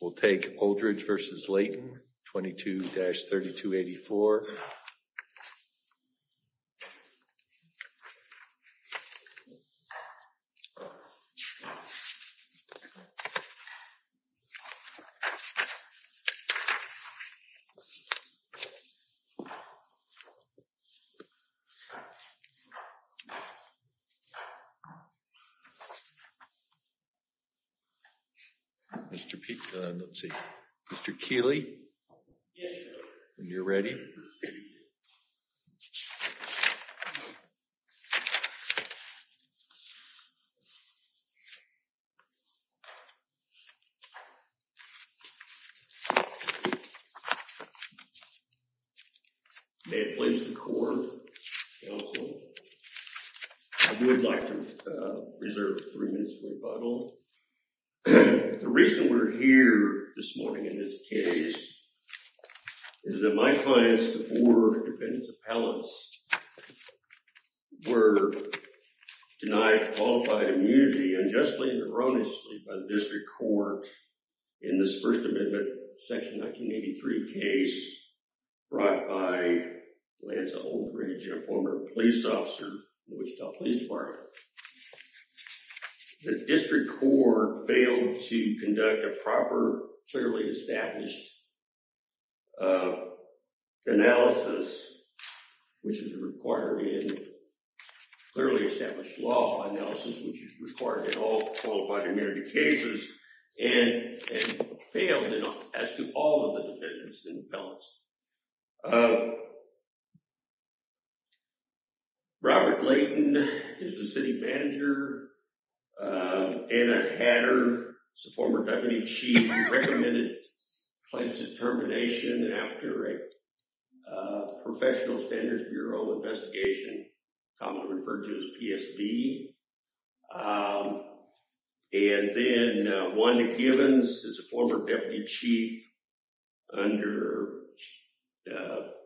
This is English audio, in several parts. We'll take Oldridge v. Layton, 22-3284. Let's see. Mr. Keeley? Yes, sir. When you're ready. May it please the Court, Counsel, I would like to reserve three minutes for rebuttal. The reason we're here this morning in this case is that my clients, the four defendants appellants, were denied qualified immunity unjustly and erroneously by the District Court in this First Amendment Section 1983 case brought by Lanza Oldridge, a former police officer of the Wichita Police Department. The District Court failed to conduct a proper, clearly established analysis, which is required in clearly established law analysis, which is required in all qualified immunity cases, and failed as to all of the defendants and appellants. Robert Layton is the city manager. Anna Hatter is the former deputy chief who recommended plaintiff's determination after a Professional Standards Bureau investigation, commonly referred to as PSB. And then Wanda Givens is a former deputy chief under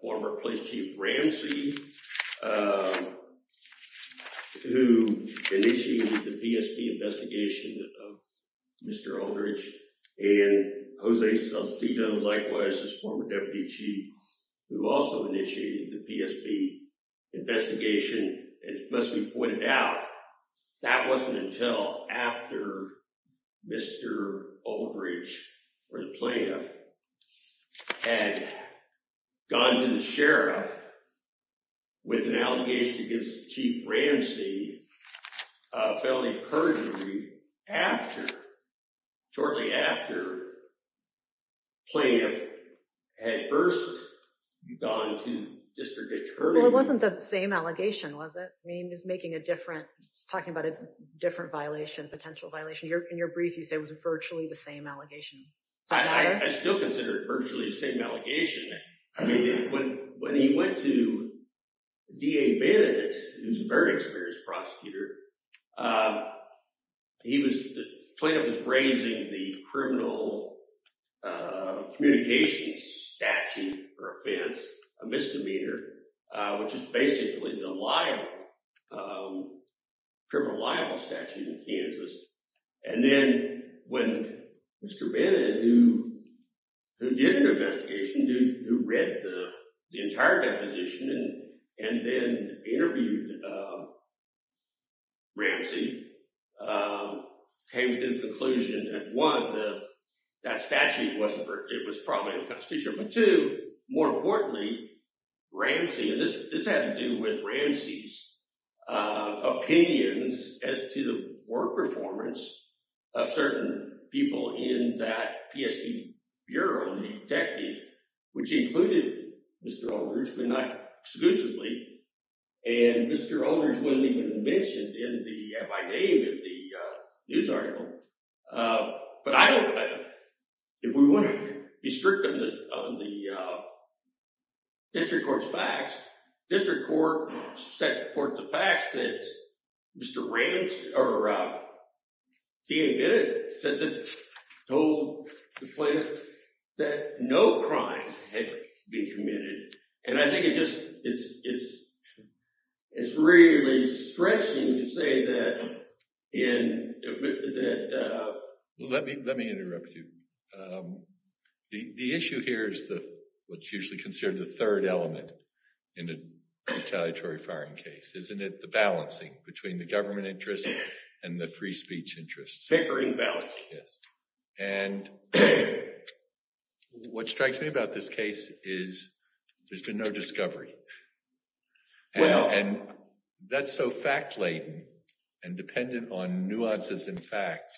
former police chief Ramsey, who initiated the PSB investigation of Mr. Oldridge. And Jose Salcedo, likewise, is a former deputy chief who also initiated the PSB investigation. It must be pointed out, that wasn't until after Mr. Oldridge, or the plaintiff, had gone to the sheriff with an allegation against Chief Ramsey of felony perjury after, shortly after, plaintiff had first gone to district attorney. Well, it wasn't the same allegation, was it? I mean, he was making a different, he was talking about a different violation, potential violation. In your brief, you say it was virtually the same allegation. I still consider it virtually the same allegation. I mean, when he went to D.A. Bennett, who's a very experienced prosecutor, the plaintiff was raising the criminal communications statute for offense, a misdemeanor, which is basically the criminal liable statute in Kansas. And then when Mr. Bennett, who did an investigation, who read the entire deposition and then interviewed Ramsey, came to the conclusion that, one, that statute wasn't, it was probably unconstitutional. But two, more importantly, Ramsey, and this had to do with Ramsey's opinions as to the work performance of certain people in that PST Bureau, the detectives, which included Mr. Holders, but not exclusively. And Mr. Holders wasn't even mentioned in the, by name in the news article. But I don't, if we want to be strict on the district court's facts, district court set forth the facts that Mr. Ramsey, or D.A. Bennett, told the plaintiff that no crime had been committed. And I think it just, it's really stretching to say that Let me interrupt you. The issue here is what's usually considered the third element in a retaliatory firing case. Isn't it the balancing between the government interest and the free speech interest? Pickering balance. Yes. And what strikes me about this case is there's been no discovery. And that's so fact-laden and dependent on nuances and facts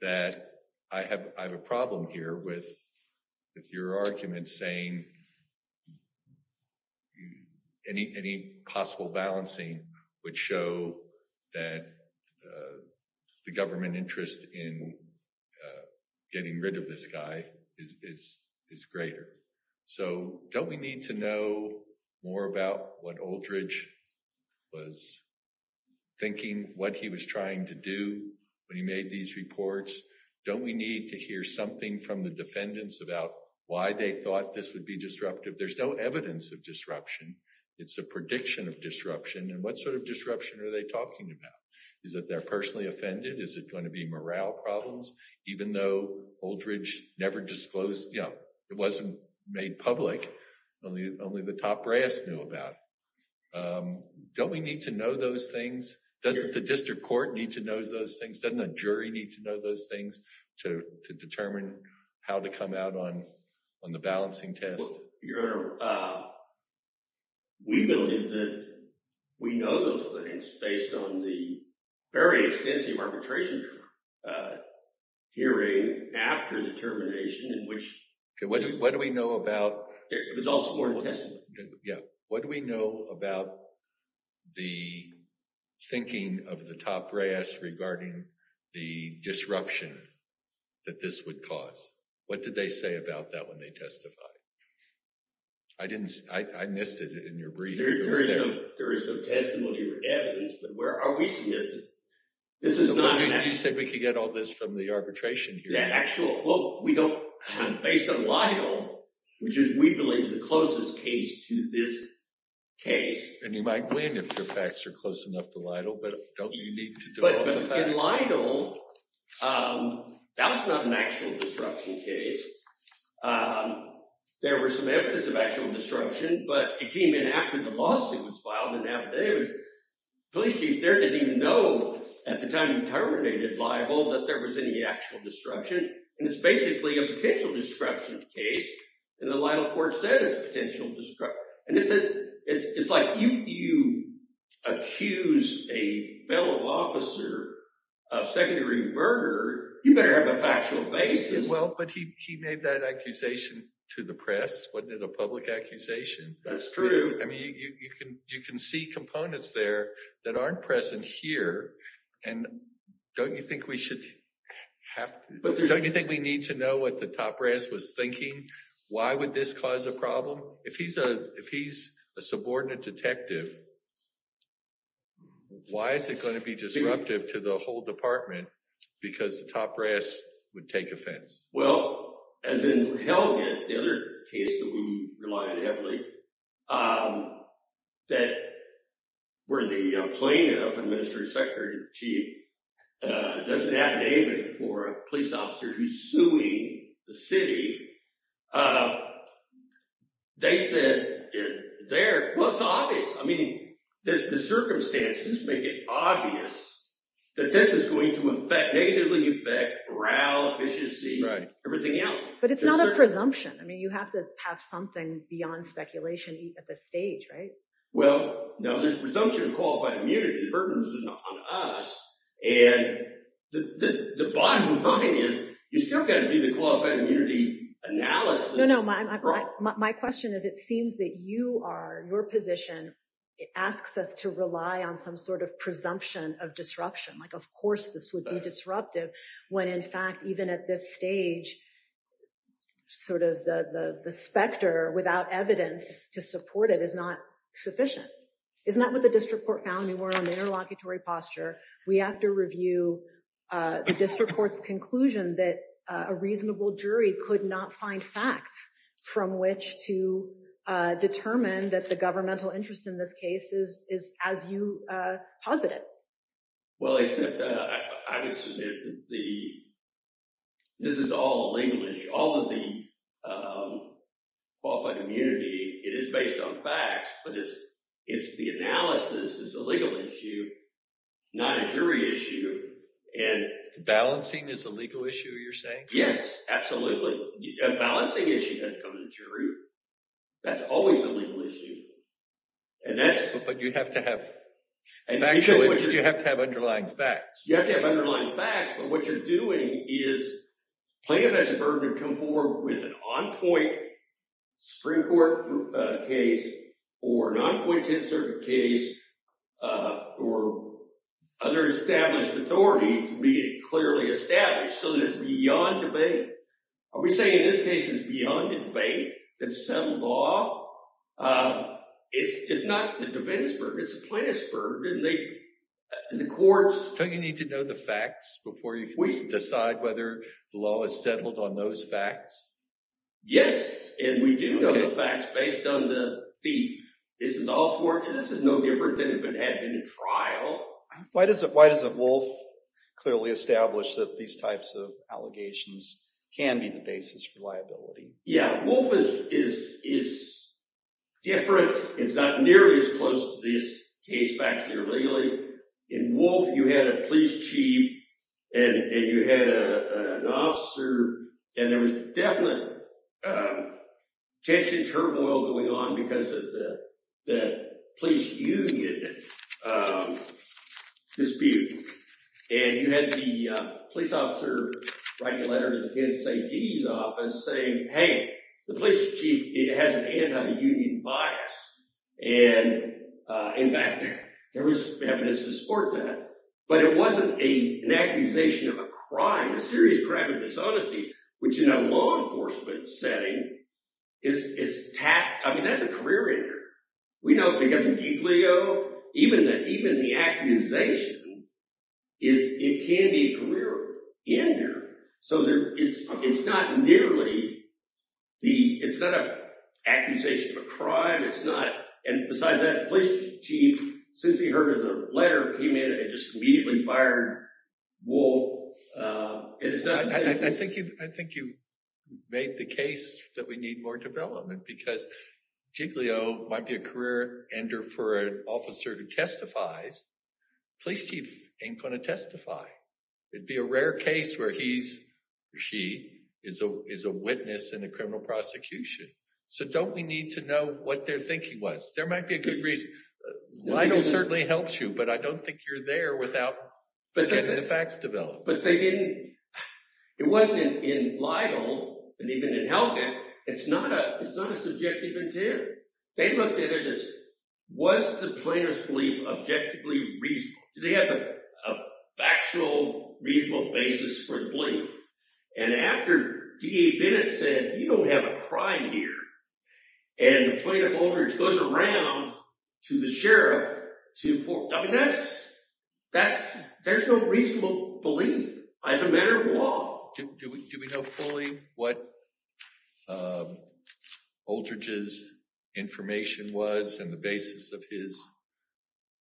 that I have, I have a problem here with your argument saying any, any possible balancing would show that the government interest in getting rid of this guy is, is, is greater. So don't we need to know more about what Oldridge was thinking, what he was trying to do when he made these reports? Don't we need to hear something from the defendants about why they thought this would be disruptive? There's no evidence of disruption. It's a prediction of disruption. And what sort of disruption are they talking about? Is that they're personally offended? Is it going to be morale problems? Even though Oldridge never disclosed, you know, it wasn't made public. Only the top brass knew about it. Don't we need to know those things? Doesn't the district court need to know those things? Doesn't a jury need to know those things to, to determine how to come out on, on the balancing test? Your Honor, we believe that we know those things based on the very extensive arbitration hearing after the termination in which. What do we know about? It was all sworn testimony. Yeah. What do we know about the thinking of the top brass regarding the disruption that this would cause? What did they say about that when they testified? I didn't, I missed it in your brief. There is no testimony or evidence, but where are we seeing it? You said we could get all this from the arbitration hearing. The actual, well, we don't, based on Lidle, which is we believe the closest case to this case. And you might win if the facts are close enough to Lidle, but don't you need to do all the facts? But Lidle, that's not an actual disruption case. There were some evidence of actual disruption, but it came in after the lawsuit was filed in Navaday. The police chief there didn't even know at the time you terminated Lidle that there was any actual disruption. And it's basically a potential disruption case. And the Lidle court said it's a potential disruption. And it says, it's like you accuse a fellow officer of secondary murder, you better have a factual basis. Well, but he made that accusation to the press. Wasn't it a public accusation? That's true. I mean, you can see components there that aren't present here. And don't you think we should have, don't you think we need to know what the top brass was thinking? Why would this cause a problem? If he's a subordinate detective, why is it going to be disruptive to the whole department? Because the top brass would take offense. Well, as in Helgen, the other case that we rely on heavily, that where the plaintiff, administrative secretary chief, doesn't have a name for a police officer who's suing the city, they said there, well, it's obvious. I mean, the circumstances make it obvious that this is going to negatively affect row efficiency, everything else. But it's not a presumption. I mean, you have to have something beyond speculation at this stage, right? Well, no, there's presumption of qualified immunity burdens on us. And the bottom line is you still got to do the qualified immunity analysis. No, no, my question is, it seems that you are, your position, it asks us to rely on some sort of presumption of disruption. Like, of course, this would be disruptive when, in fact, even at this stage, sort of the specter without evidence to support it is not sufficient. Isn't that what the district court found? We were on the interlocutory posture. We have to review the district court's conclusion that a reasonable jury could not find facts from which to determine that the governmental interest in this case is as you posit it. Well, except I would submit that this is all a legal issue. All of the qualified immunity, it is based on facts, but it's the analysis that's a legal issue, not a jury issue. Balancing is a legal issue, you're saying? Yes, absolutely. A balancing issue doesn't come to the jury. That's always a legal issue. But you have to have underlying facts. You have to have underlying facts, but what you're doing is plaintiff has the burden to come forward with an on-point Supreme Court case or an on-point 10th Circuit case or other established authority to be clearly established so that it's beyond debate. Are we saying this case is beyond debate? It's settled law. It's not the defense burden, it's the plaintiff's burden, and the courts… Don't you need to know the facts before you decide whether the law is settled on those facts? Yes, and we do know the facts based on the… This is no different than if it had been a trial. Why doesn't Wolf clearly establish that these types of allegations can be the basis for liability? Yeah, Wolf is different. It's not nearly as close to this case back here legally. In Wolf, you had a police chief and you had an officer, and there was definite tension and turmoil going on because of the police union dispute. And you had the police officer writing a letter to the kids safety's office saying, hey, the police chief has an anti-union bias. And, in fact, there was evidence to support that. But it wasn't an accusation of a crime, a serious crime of dishonesty, which in a law enforcement setting is tacked. I mean, that's a career ender. We know because of Deke Leo, even the accusation, it can be a career ender. So it's not nearly the – it's not an accusation of a crime. It's not – and besides that, the police chief, since he heard of the letter, came in and just immediately fired Wolf. I think you've made the case that we need more development because Deke Leo might be a career ender for an officer who testifies. The police chief ain't going to testify. It would be a rare case where he or she is a witness in a criminal prosecution. So don't we need to know what their thinking was? There might be a good reason. Lidl certainly helps you, but I don't think you're there without getting the facts developed. But they didn't – it wasn't in Lidl and even in Helvet. It's not a subjective interior. They looked at it as was the plaintiff's belief objectively reasonable? Do they have a factual, reasonable basis for the belief? And after DA Bennett said, you don't have a crime here, and the plaintiff, Oldridge, goes around to the sheriff to – I mean, that's – there's no reasonable belief as a matter of law. Do we know fully what Oldridge's information was and the basis of his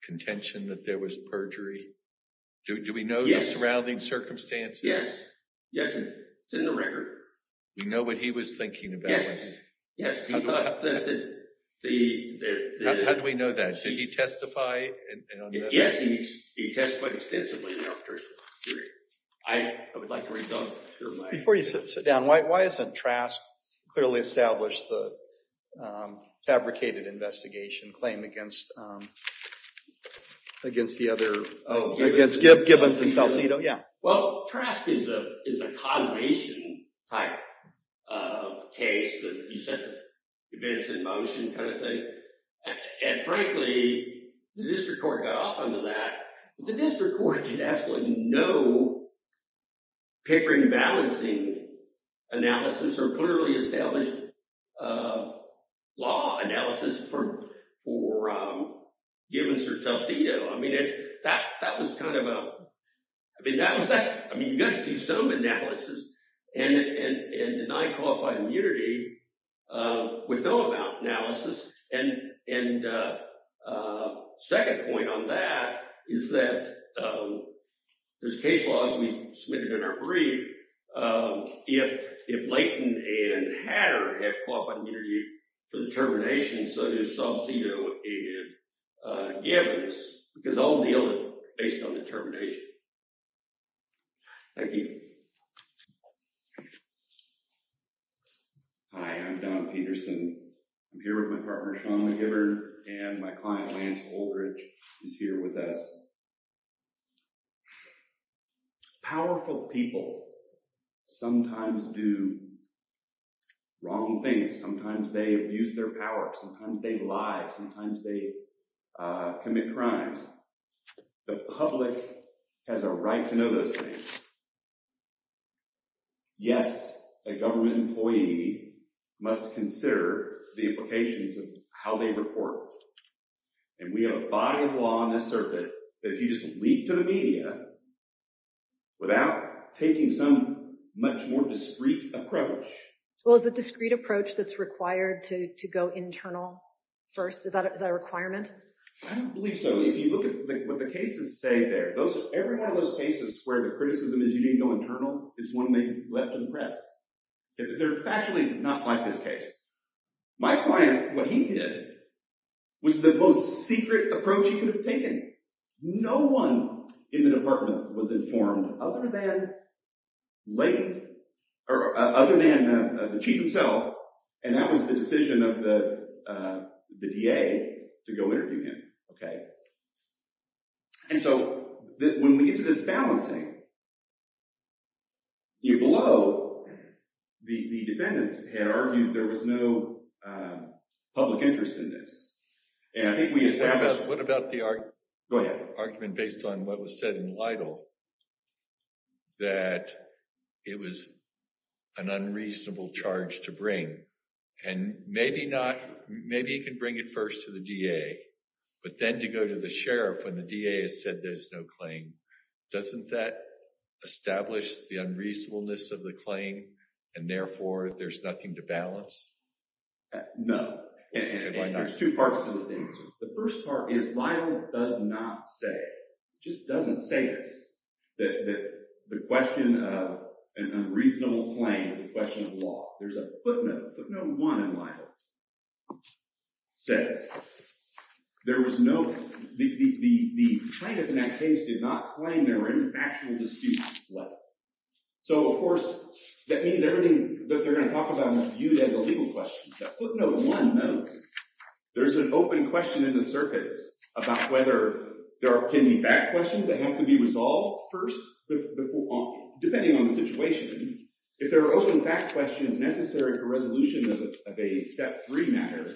contention that there was perjury? Do we know the surrounding circumstances? Yes. Yes. It's in the record. We know what he was thinking about. Yes. Yes. How do we know that? Did he testify? Yes, he testified extensively in our case. I would like to rebut. Before you sit down, why isn't Trask clearly established the fabricated investigation claim against the other – against Gibbons and Salcido? Yeah. Well, Trask is a causation-type case. He set the events in motion kind of thing. And, frankly, the district court got off on to that. The district court did absolutely no papering and balancing analysis or clearly established law analysis for Gibbons or Salcido. I mean, that was kind of a – I mean, you've got to do some analysis and deny qualified immunity with no amount of analysis. And second point on that is that there's case laws we submitted in our brief. If Layton and Hatter have qualified immunity for determination, so does Salcido and Gibbons because they'll deal with it based on determination. Thank you. Hi, I'm Don Peterson. I'm here with my partner, Sean McGibbon, and my client, Lance Oldridge, who's here with us. Powerful people sometimes do wrong things. Sometimes they abuse their power. Sometimes they lie. Sometimes they commit crimes. The public has a right to know those things. Yes, a government employee must consider the implications of how they report. And we have a body of law in this circuit that if you just leap to the media without taking some much more discreet approach. Well, is it a discreet approach that's required to go internal first? Is that a requirement? I don't believe so. If you look at what the cases say there, every one of those cases where the criticism is you didn't go internal is one they left in the press. They're factually not like this case. My client, what he did was the most secret approach he could have taken. No one in the department was informed other than the chief himself, and that was the decision of the DA to go interview him. And so when we get to this balancing, you blow the defendants had argued there was no public interest in this. And I think we established. What about the argument based on what was said in Lytle that it was an unreasonable charge to bring? And maybe not. Maybe he can bring it first to the DA, but then to go to the sheriff when the DA has said there's no claim. Doesn't that establish the unreasonableness of the claim, and therefore there's nothing to balance? No. There's two parts to this answer. The first part is Lytle does not say, just doesn't say this, that the question of an unreasonable claim is a question of law. There's a footnote, footnote one in Lytle. Says there was no, the plaintiff in that case did not claim there were any factual disputes. So of course that means everything that they're going to talk about is viewed as a legal question. The footnote one notes there's an open question in the circuits about whether there are pending fact questions that have to be resolved first. Depending on the situation, if there are open fact questions necessary for resolution of a step three matter,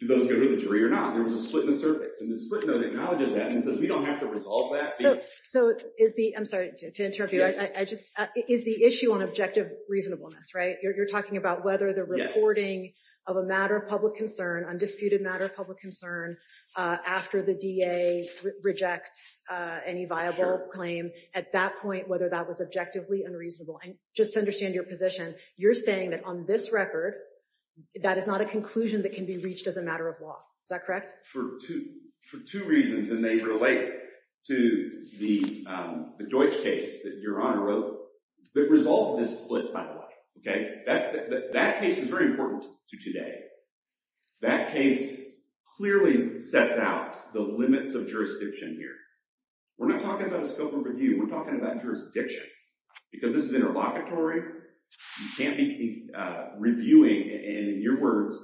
do those go to the jury or not? There was a split in the circuits, and the footnote acknowledges that and says we don't have to resolve that. So is the, I'm sorry to interrupt you, I just, is the issue on objective reasonableness, right? You're talking about whether the reporting of a matter of public concern, undisputed matter of public concern, after the DA rejects any viable claim at that point, whether that was objectively unreasonable. And just to understand your position, you're saying that on this record, that is not a conclusion that can be reached as a matter of law. Is that correct? For two reasons, and they relate to the Deutsch case that Your Honor wrote, that resolved this split, by the way. Okay? That case is very important to today. That case clearly sets out the limits of jurisdiction here. We're not talking about a scope of review. We're talking about jurisdiction. Because this is interlocutory, you can't be reviewing, and in your words,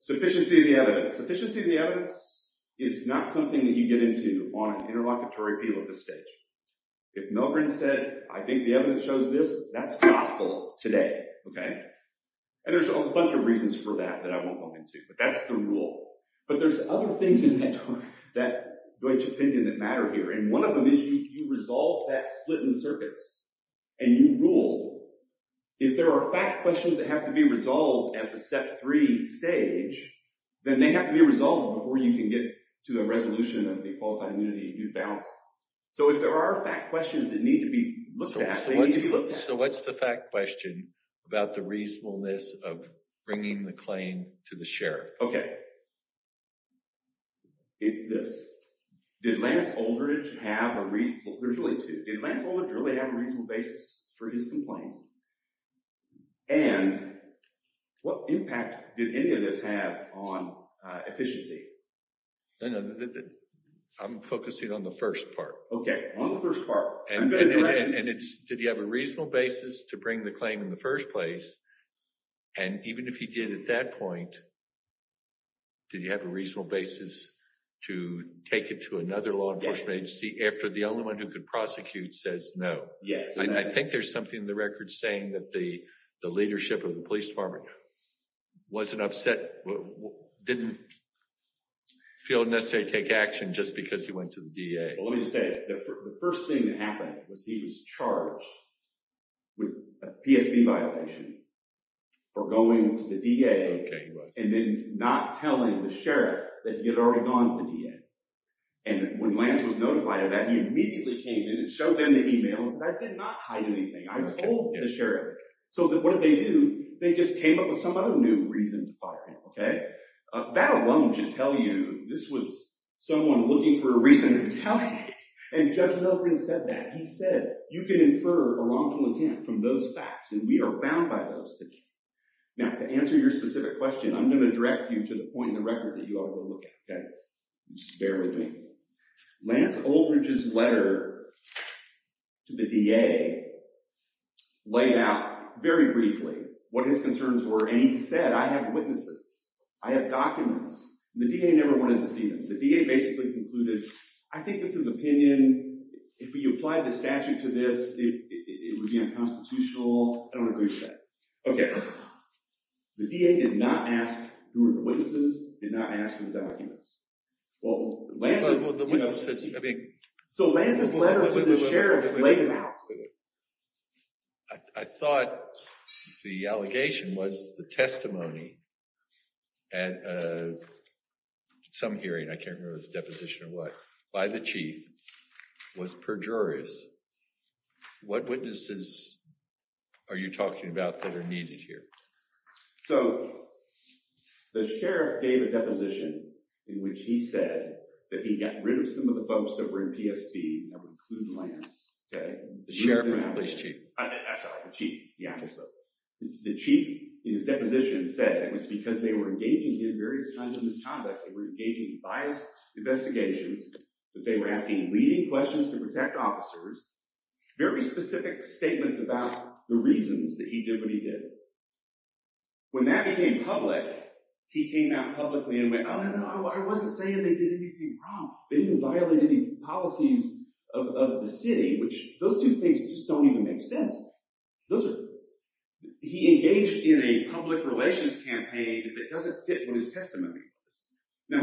sufficiency of the evidence. Sufficiency of the evidence is not something that you get into on an interlocutory appeal at this stage. If Milgrim said, I think the evidence shows this, that's gospel today. Okay? And there's a bunch of reasons for that that I won't go into, but that's the rule. But there's other things in that Deutsch opinion that matter here, and one of them is you resolve that split in circuits, and you rule. If there are fact questions that have to be resolved at the step three stage, then they have to be resolved before you can get to a resolution of the qualified immunity and due balance. So if there are fact questions that need to be looked at, they need to be looked at. So what's the fact question about the reasonableness of bringing the claim to the sheriff? Okay. It's this. Did Lance Oldridge have a reasonable... There's really two. Did Lance Oldridge really have a reasonable basis for his complaints? And what impact did any of this have on efficiency? I'm focusing on the first part. Okay. On the first part. And it's, did he have a reasonable basis to bring the claim in the first place? And even if he did at that point, did he have a reasonable basis to take it to another law enforcement agency after the only one who could prosecute says no? Yes. I think there's something in the record saying that the leadership of the police department wasn't upset, didn't feel necessary to take action just because he went to the DA. Well, let me just say, the first thing that happened was he was charged with a PSB violation for going to the DA. Okay. And then not telling the sheriff that he had already gone to the DA. And when Lance was notified of that, he immediately came in and showed them the email and said, I did not hide anything. I told the sheriff. So what did they do? They just came up with some other new reason to fire him. Okay. That alone should tell you this was someone looking for a reason to retaliate. And Judge Melvin said that. He said, you can infer a wrongful attempt from those facts and we are bound by those today. Now to answer your specific question, I'm going to direct you to the point in the record that you ought to look at. Okay. Bear with me. Lance Oldridge's letter to the DA laid out very briefly what his concerns were. And he said, I have witnesses. I have documents. The DA never wanted to see them. The DA basically concluded. I think this is opinion. If you apply the statute to this, it would be unconstitutional. I don't agree with that. Okay. The DA did not ask who were the witnesses, did not ask for the documents. Well, Lance. So Lance's letter to the sheriff laid out. I thought the allegation was the testimony. And some hearing, I can't remember if it was a deposition or what, by the chief was perjurious. What witnesses are you talking about? So the sheriff gave a deposition in which he said that he got rid of some of the folks that were in PSB, that would include Lance. The sheriff or the police chief? The chief. The chief in his deposition said it was because they were engaging in various kinds of misconduct. They were engaging in biased investigations, that they were asking leading questions to protect officers, very specific statements about the reasons that he did what he did. When that became public, he came out publicly and went, oh, I wasn't saying they did anything wrong. They didn't violate any policies of the city, which those two things just don't even make sense. Those are, he engaged in a public relations campaign that doesn't fit what his testimony is. Now,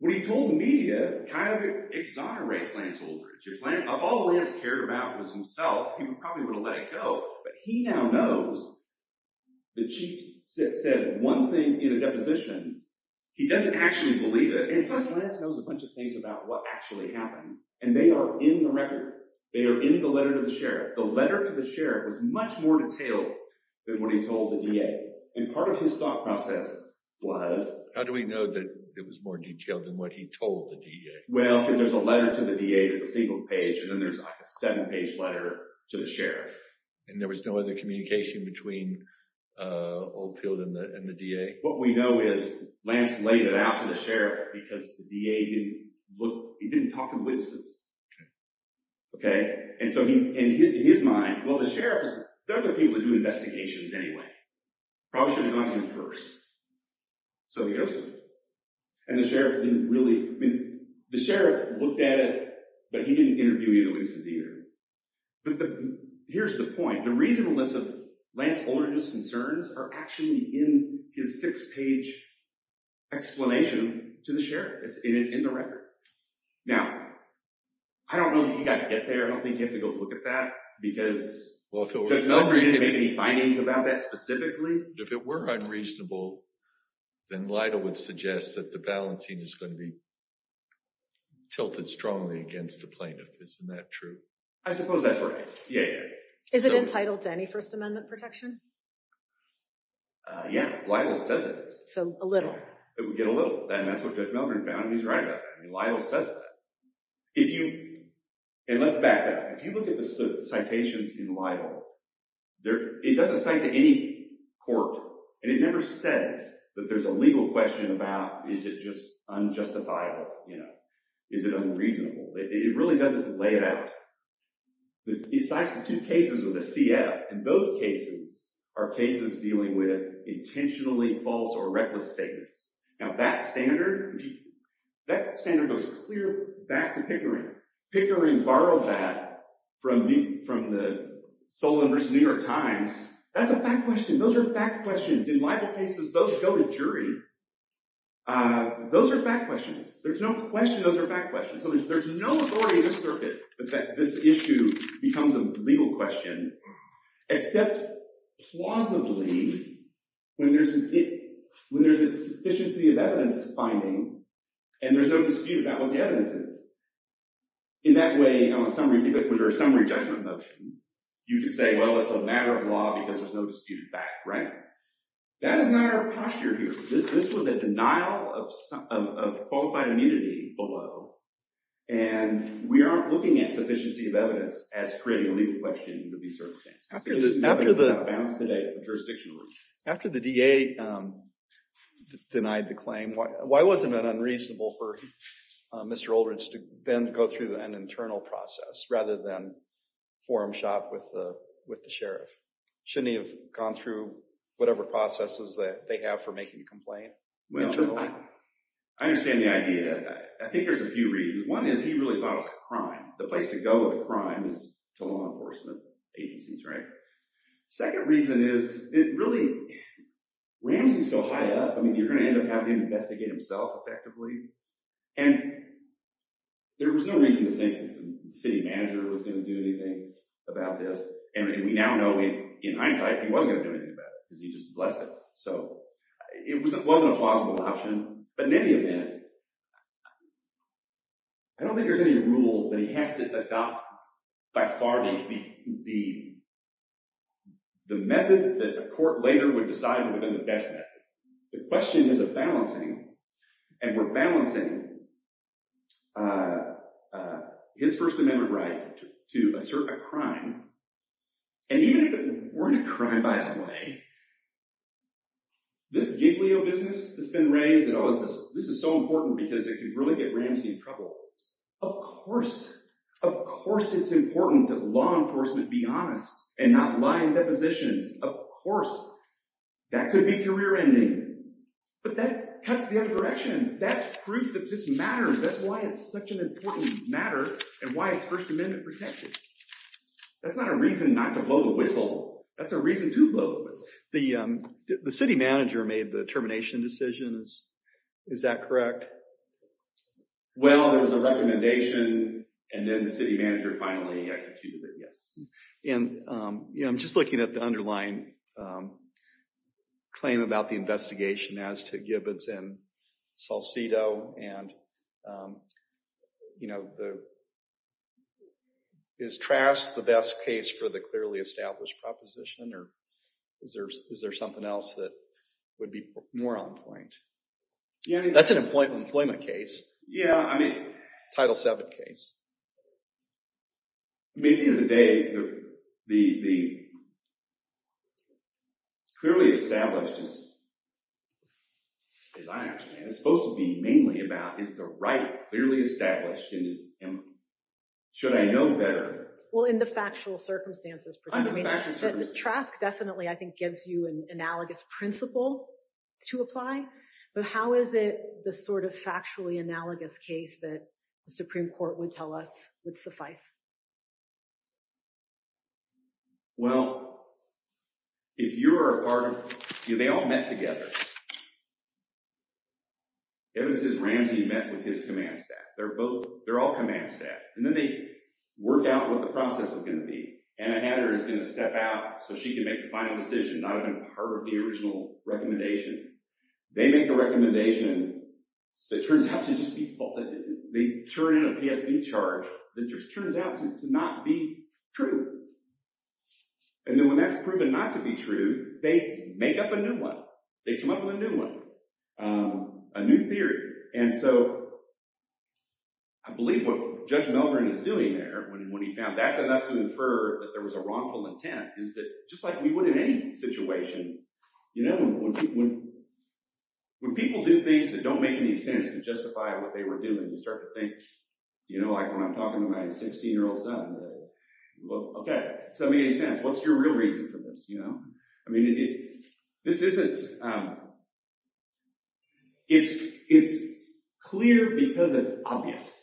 what he told the media kind of exonerates Lance Oldridge. If all Lance cared about was himself, he probably would have let it go. But he now knows the chief said one thing in a deposition, he doesn't actually believe it. And Lance knows a bunch of things about what actually happened. And they are in the record. They are in the letter to the sheriff. The letter to the sheriff was much more detailed than what he told the DA. And part of his thought process was. How do we know that it was more detailed than what he told the DA? Well, because there's a letter to the DA that's a single page and then there's like a seven page letter to the sheriff. And there was no other communication between Oldfield and the, and the DA. What we know is Lance laid it out to the sheriff because the DA didn't look, he didn't talk to witnesses. Okay. Okay. And so he, in his mind, well, the sheriff is the other people that do investigations anyway. Probably should have gone to him first. So he goes to him. And the sheriff didn't really, I mean, the sheriff looked at it, but he didn't interview either of the witnesses either. But here's the point. The reason, the list of Lance Oldridge's concerns are actually in his six page explanation to the sheriff. And it's in the record. Now, I don't know that you got to get there. I don't think you have to go look at that because. Any findings about that specifically. If it were unreasonable. Then Lydell would suggest that the balancing is going to be. Tilted strongly against the plaintiff. Isn't that true? I suppose that's right. Yeah. Is it entitled to any first amendment protection? Yeah. So a little. It would get a little. And that's what judge Melvin found. He's right. Yeah. I mean, Lydell says that. If you. And let's back up. If you look at the citations in Lydell. There it doesn't say to any. Court. And it never says that there's a legal question about, is it just. Unjustifiable. You know, is it unreasonable? It really doesn't lay it out. Besides the two cases with a CF. And those cases. Are cases dealing with intentionally false or reckless statements. Now, that standard. That standard goes clear back to Pickering. Pickering borrowed that. From the, from the. Sole members of New York times. That's a fact question. Those are fact questions in libel cases. Those go to jury. Those are fact questions. There's no question. Those are fact questions. So there's, there's no authority in this circuit. That this issue becomes a legal question. Except. Plausibly. When there's. When there's a sufficiency of evidence finding. And there's no dispute about what the evidence is. In that way. On a summary. Summary judgment motion. You just say, well, it's a matter of law because there's no disputed fact. Right. That is not our posture here. This was a denial of. Qualified immunity below. And we aren't looking at sufficiency of evidence. As creating a legal question. To be certain. After the. Bounced today. Jurisdiction. After the DA. Denied the claim. Why wasn't it unreasonable for. Mr. Aldridge to then go through an internal process. Rather than. Forum shop with the, with the sheriff. Should he have gone through. Whatever processes that they have for making a complaint. I understand the idea. I think there's a few reasons. One is he really thought it was a crime. The place to go with a crime is. To law enforcement. Agencies, right. Second reason is it really. Ramsey's so high up. I mean, you're going to end up having to investigate himself. Effectively. And. There was no reason to think. The city manager was going to do anything. About this. And we now know. In hindsight, he wasn't going to do anything about it. Because he just blessed it. So. It was, it wasn't a plausible option. But in any event. I don't think there's any rule that he has to adopt. By far. The. The method that the court later would decide. The question is a balancing. And we're balancing. His first amendment, right. To assert a crime. And even if it weren't a crime, by the way. This Giglio business has been raised at all. Is this. This is so important because it could really get Ramsey in trouble. Of course. Of course, it's important that law enforcement be honest. And not lying depositions. Of course. That could be career ending. But that cuts the other direction. That's proof that this matters. That's why it's such an important matter. And why it's first amendment protected. That's not a reason not to blow the whistle. That's a reason to blow the whistle. The city manager made the termination decisions. Is that correct? Well, there was a recommendation. And then the city manager finally executed it. Yes. And I'm just looking at the underlying. Claim about the investigation as to Gibbons and Salcido. And, you know. Is Trask the best case for the clearly established proposition? Or is there something else that would be more on point? That's an employment case. Yeah, I mean. Title VII case. At the end of the day. The. Clearly established. As I understand it. It's supposed to be mainly about. Is the right clearly established? Should I know better? Well, in the factual circumstances. Trask definitely, I think, gives you an analogous principle to apply. But how is it the sort of factually analogous case that. The Supreme court would tell us would suffice. Well. If you're a part of you, they all met together. Evidence is Ramsey met with his command staff. They're both. They're all command staff. And then they work out what the process is going to be. Anna Hatter is going to step out so she can make the final decision. Not even part of the original recommendation. They make a recommendation. That turns out to just be. They turn in a PSB charge that just turns out to not be true. And then when that's proven not to be true, they make up a new one. They come up with a new one. A new theory. And so. I believe what Judge Melbourne is doing there when he found that's enough to infer that there was a wrongful intent. Is that just like we would in any situation. You know, when. When people do things that don't make any sense to justify what they were doing, you start to think. You know, like when I'm talking to my 16 year old son. Well, OK. So many sense. What's your real reason for this? You know, I mean, this isn't. It's it's clear because it's obvious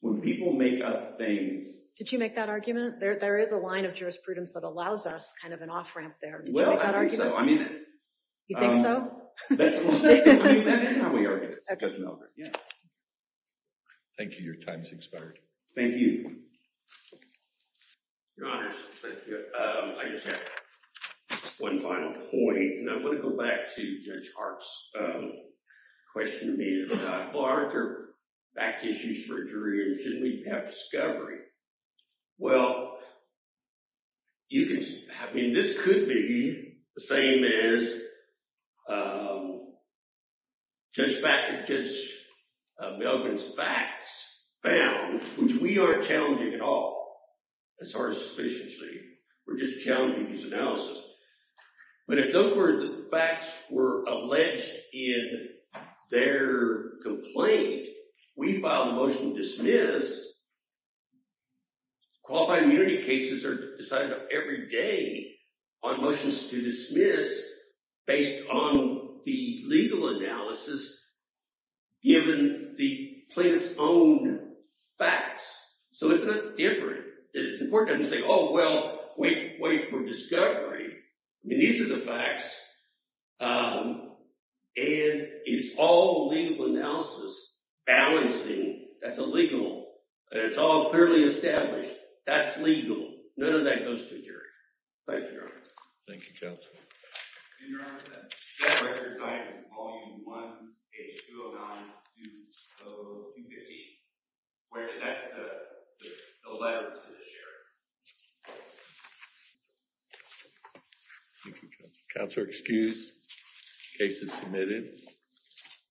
when people make up things. Did you make that argument there? There is a line of jurisprudence that allows us kind of an off ramp there. Well, I think so. I mean, you think so? Thank you. Your time is expired. Thank you. Your Honor. One final point. And I want to go back to Judge Hart's question. Back issues for jury. Shouldn't we have discovery? Well. You can. I mean, this could be the same as. Judge Melbourne's facts found, which we are challenging at all. As far as suspiciously. We're just challenging this analysis. But it's over. The facts were alleged in their complaint. We filed a motion to dismiss. Qualified immunity cases are decided every day on motions to dismiss. Based on the legal analysis. Given the plaintiff's own facts. So it's different. The court doesn't say, oh, well, wait for discovery. I mean, these are the facts. And it's all legal analysis. Balancing. That's illegal. It's all clearly established. That's legal. None of that goes to a jury. Thank you, Your Honor. Thank you, Counsel. Your Honor. That right there is signed as Volume 1, page 209. Where the letter to the sheriff. Counselor, excuse cases submitted.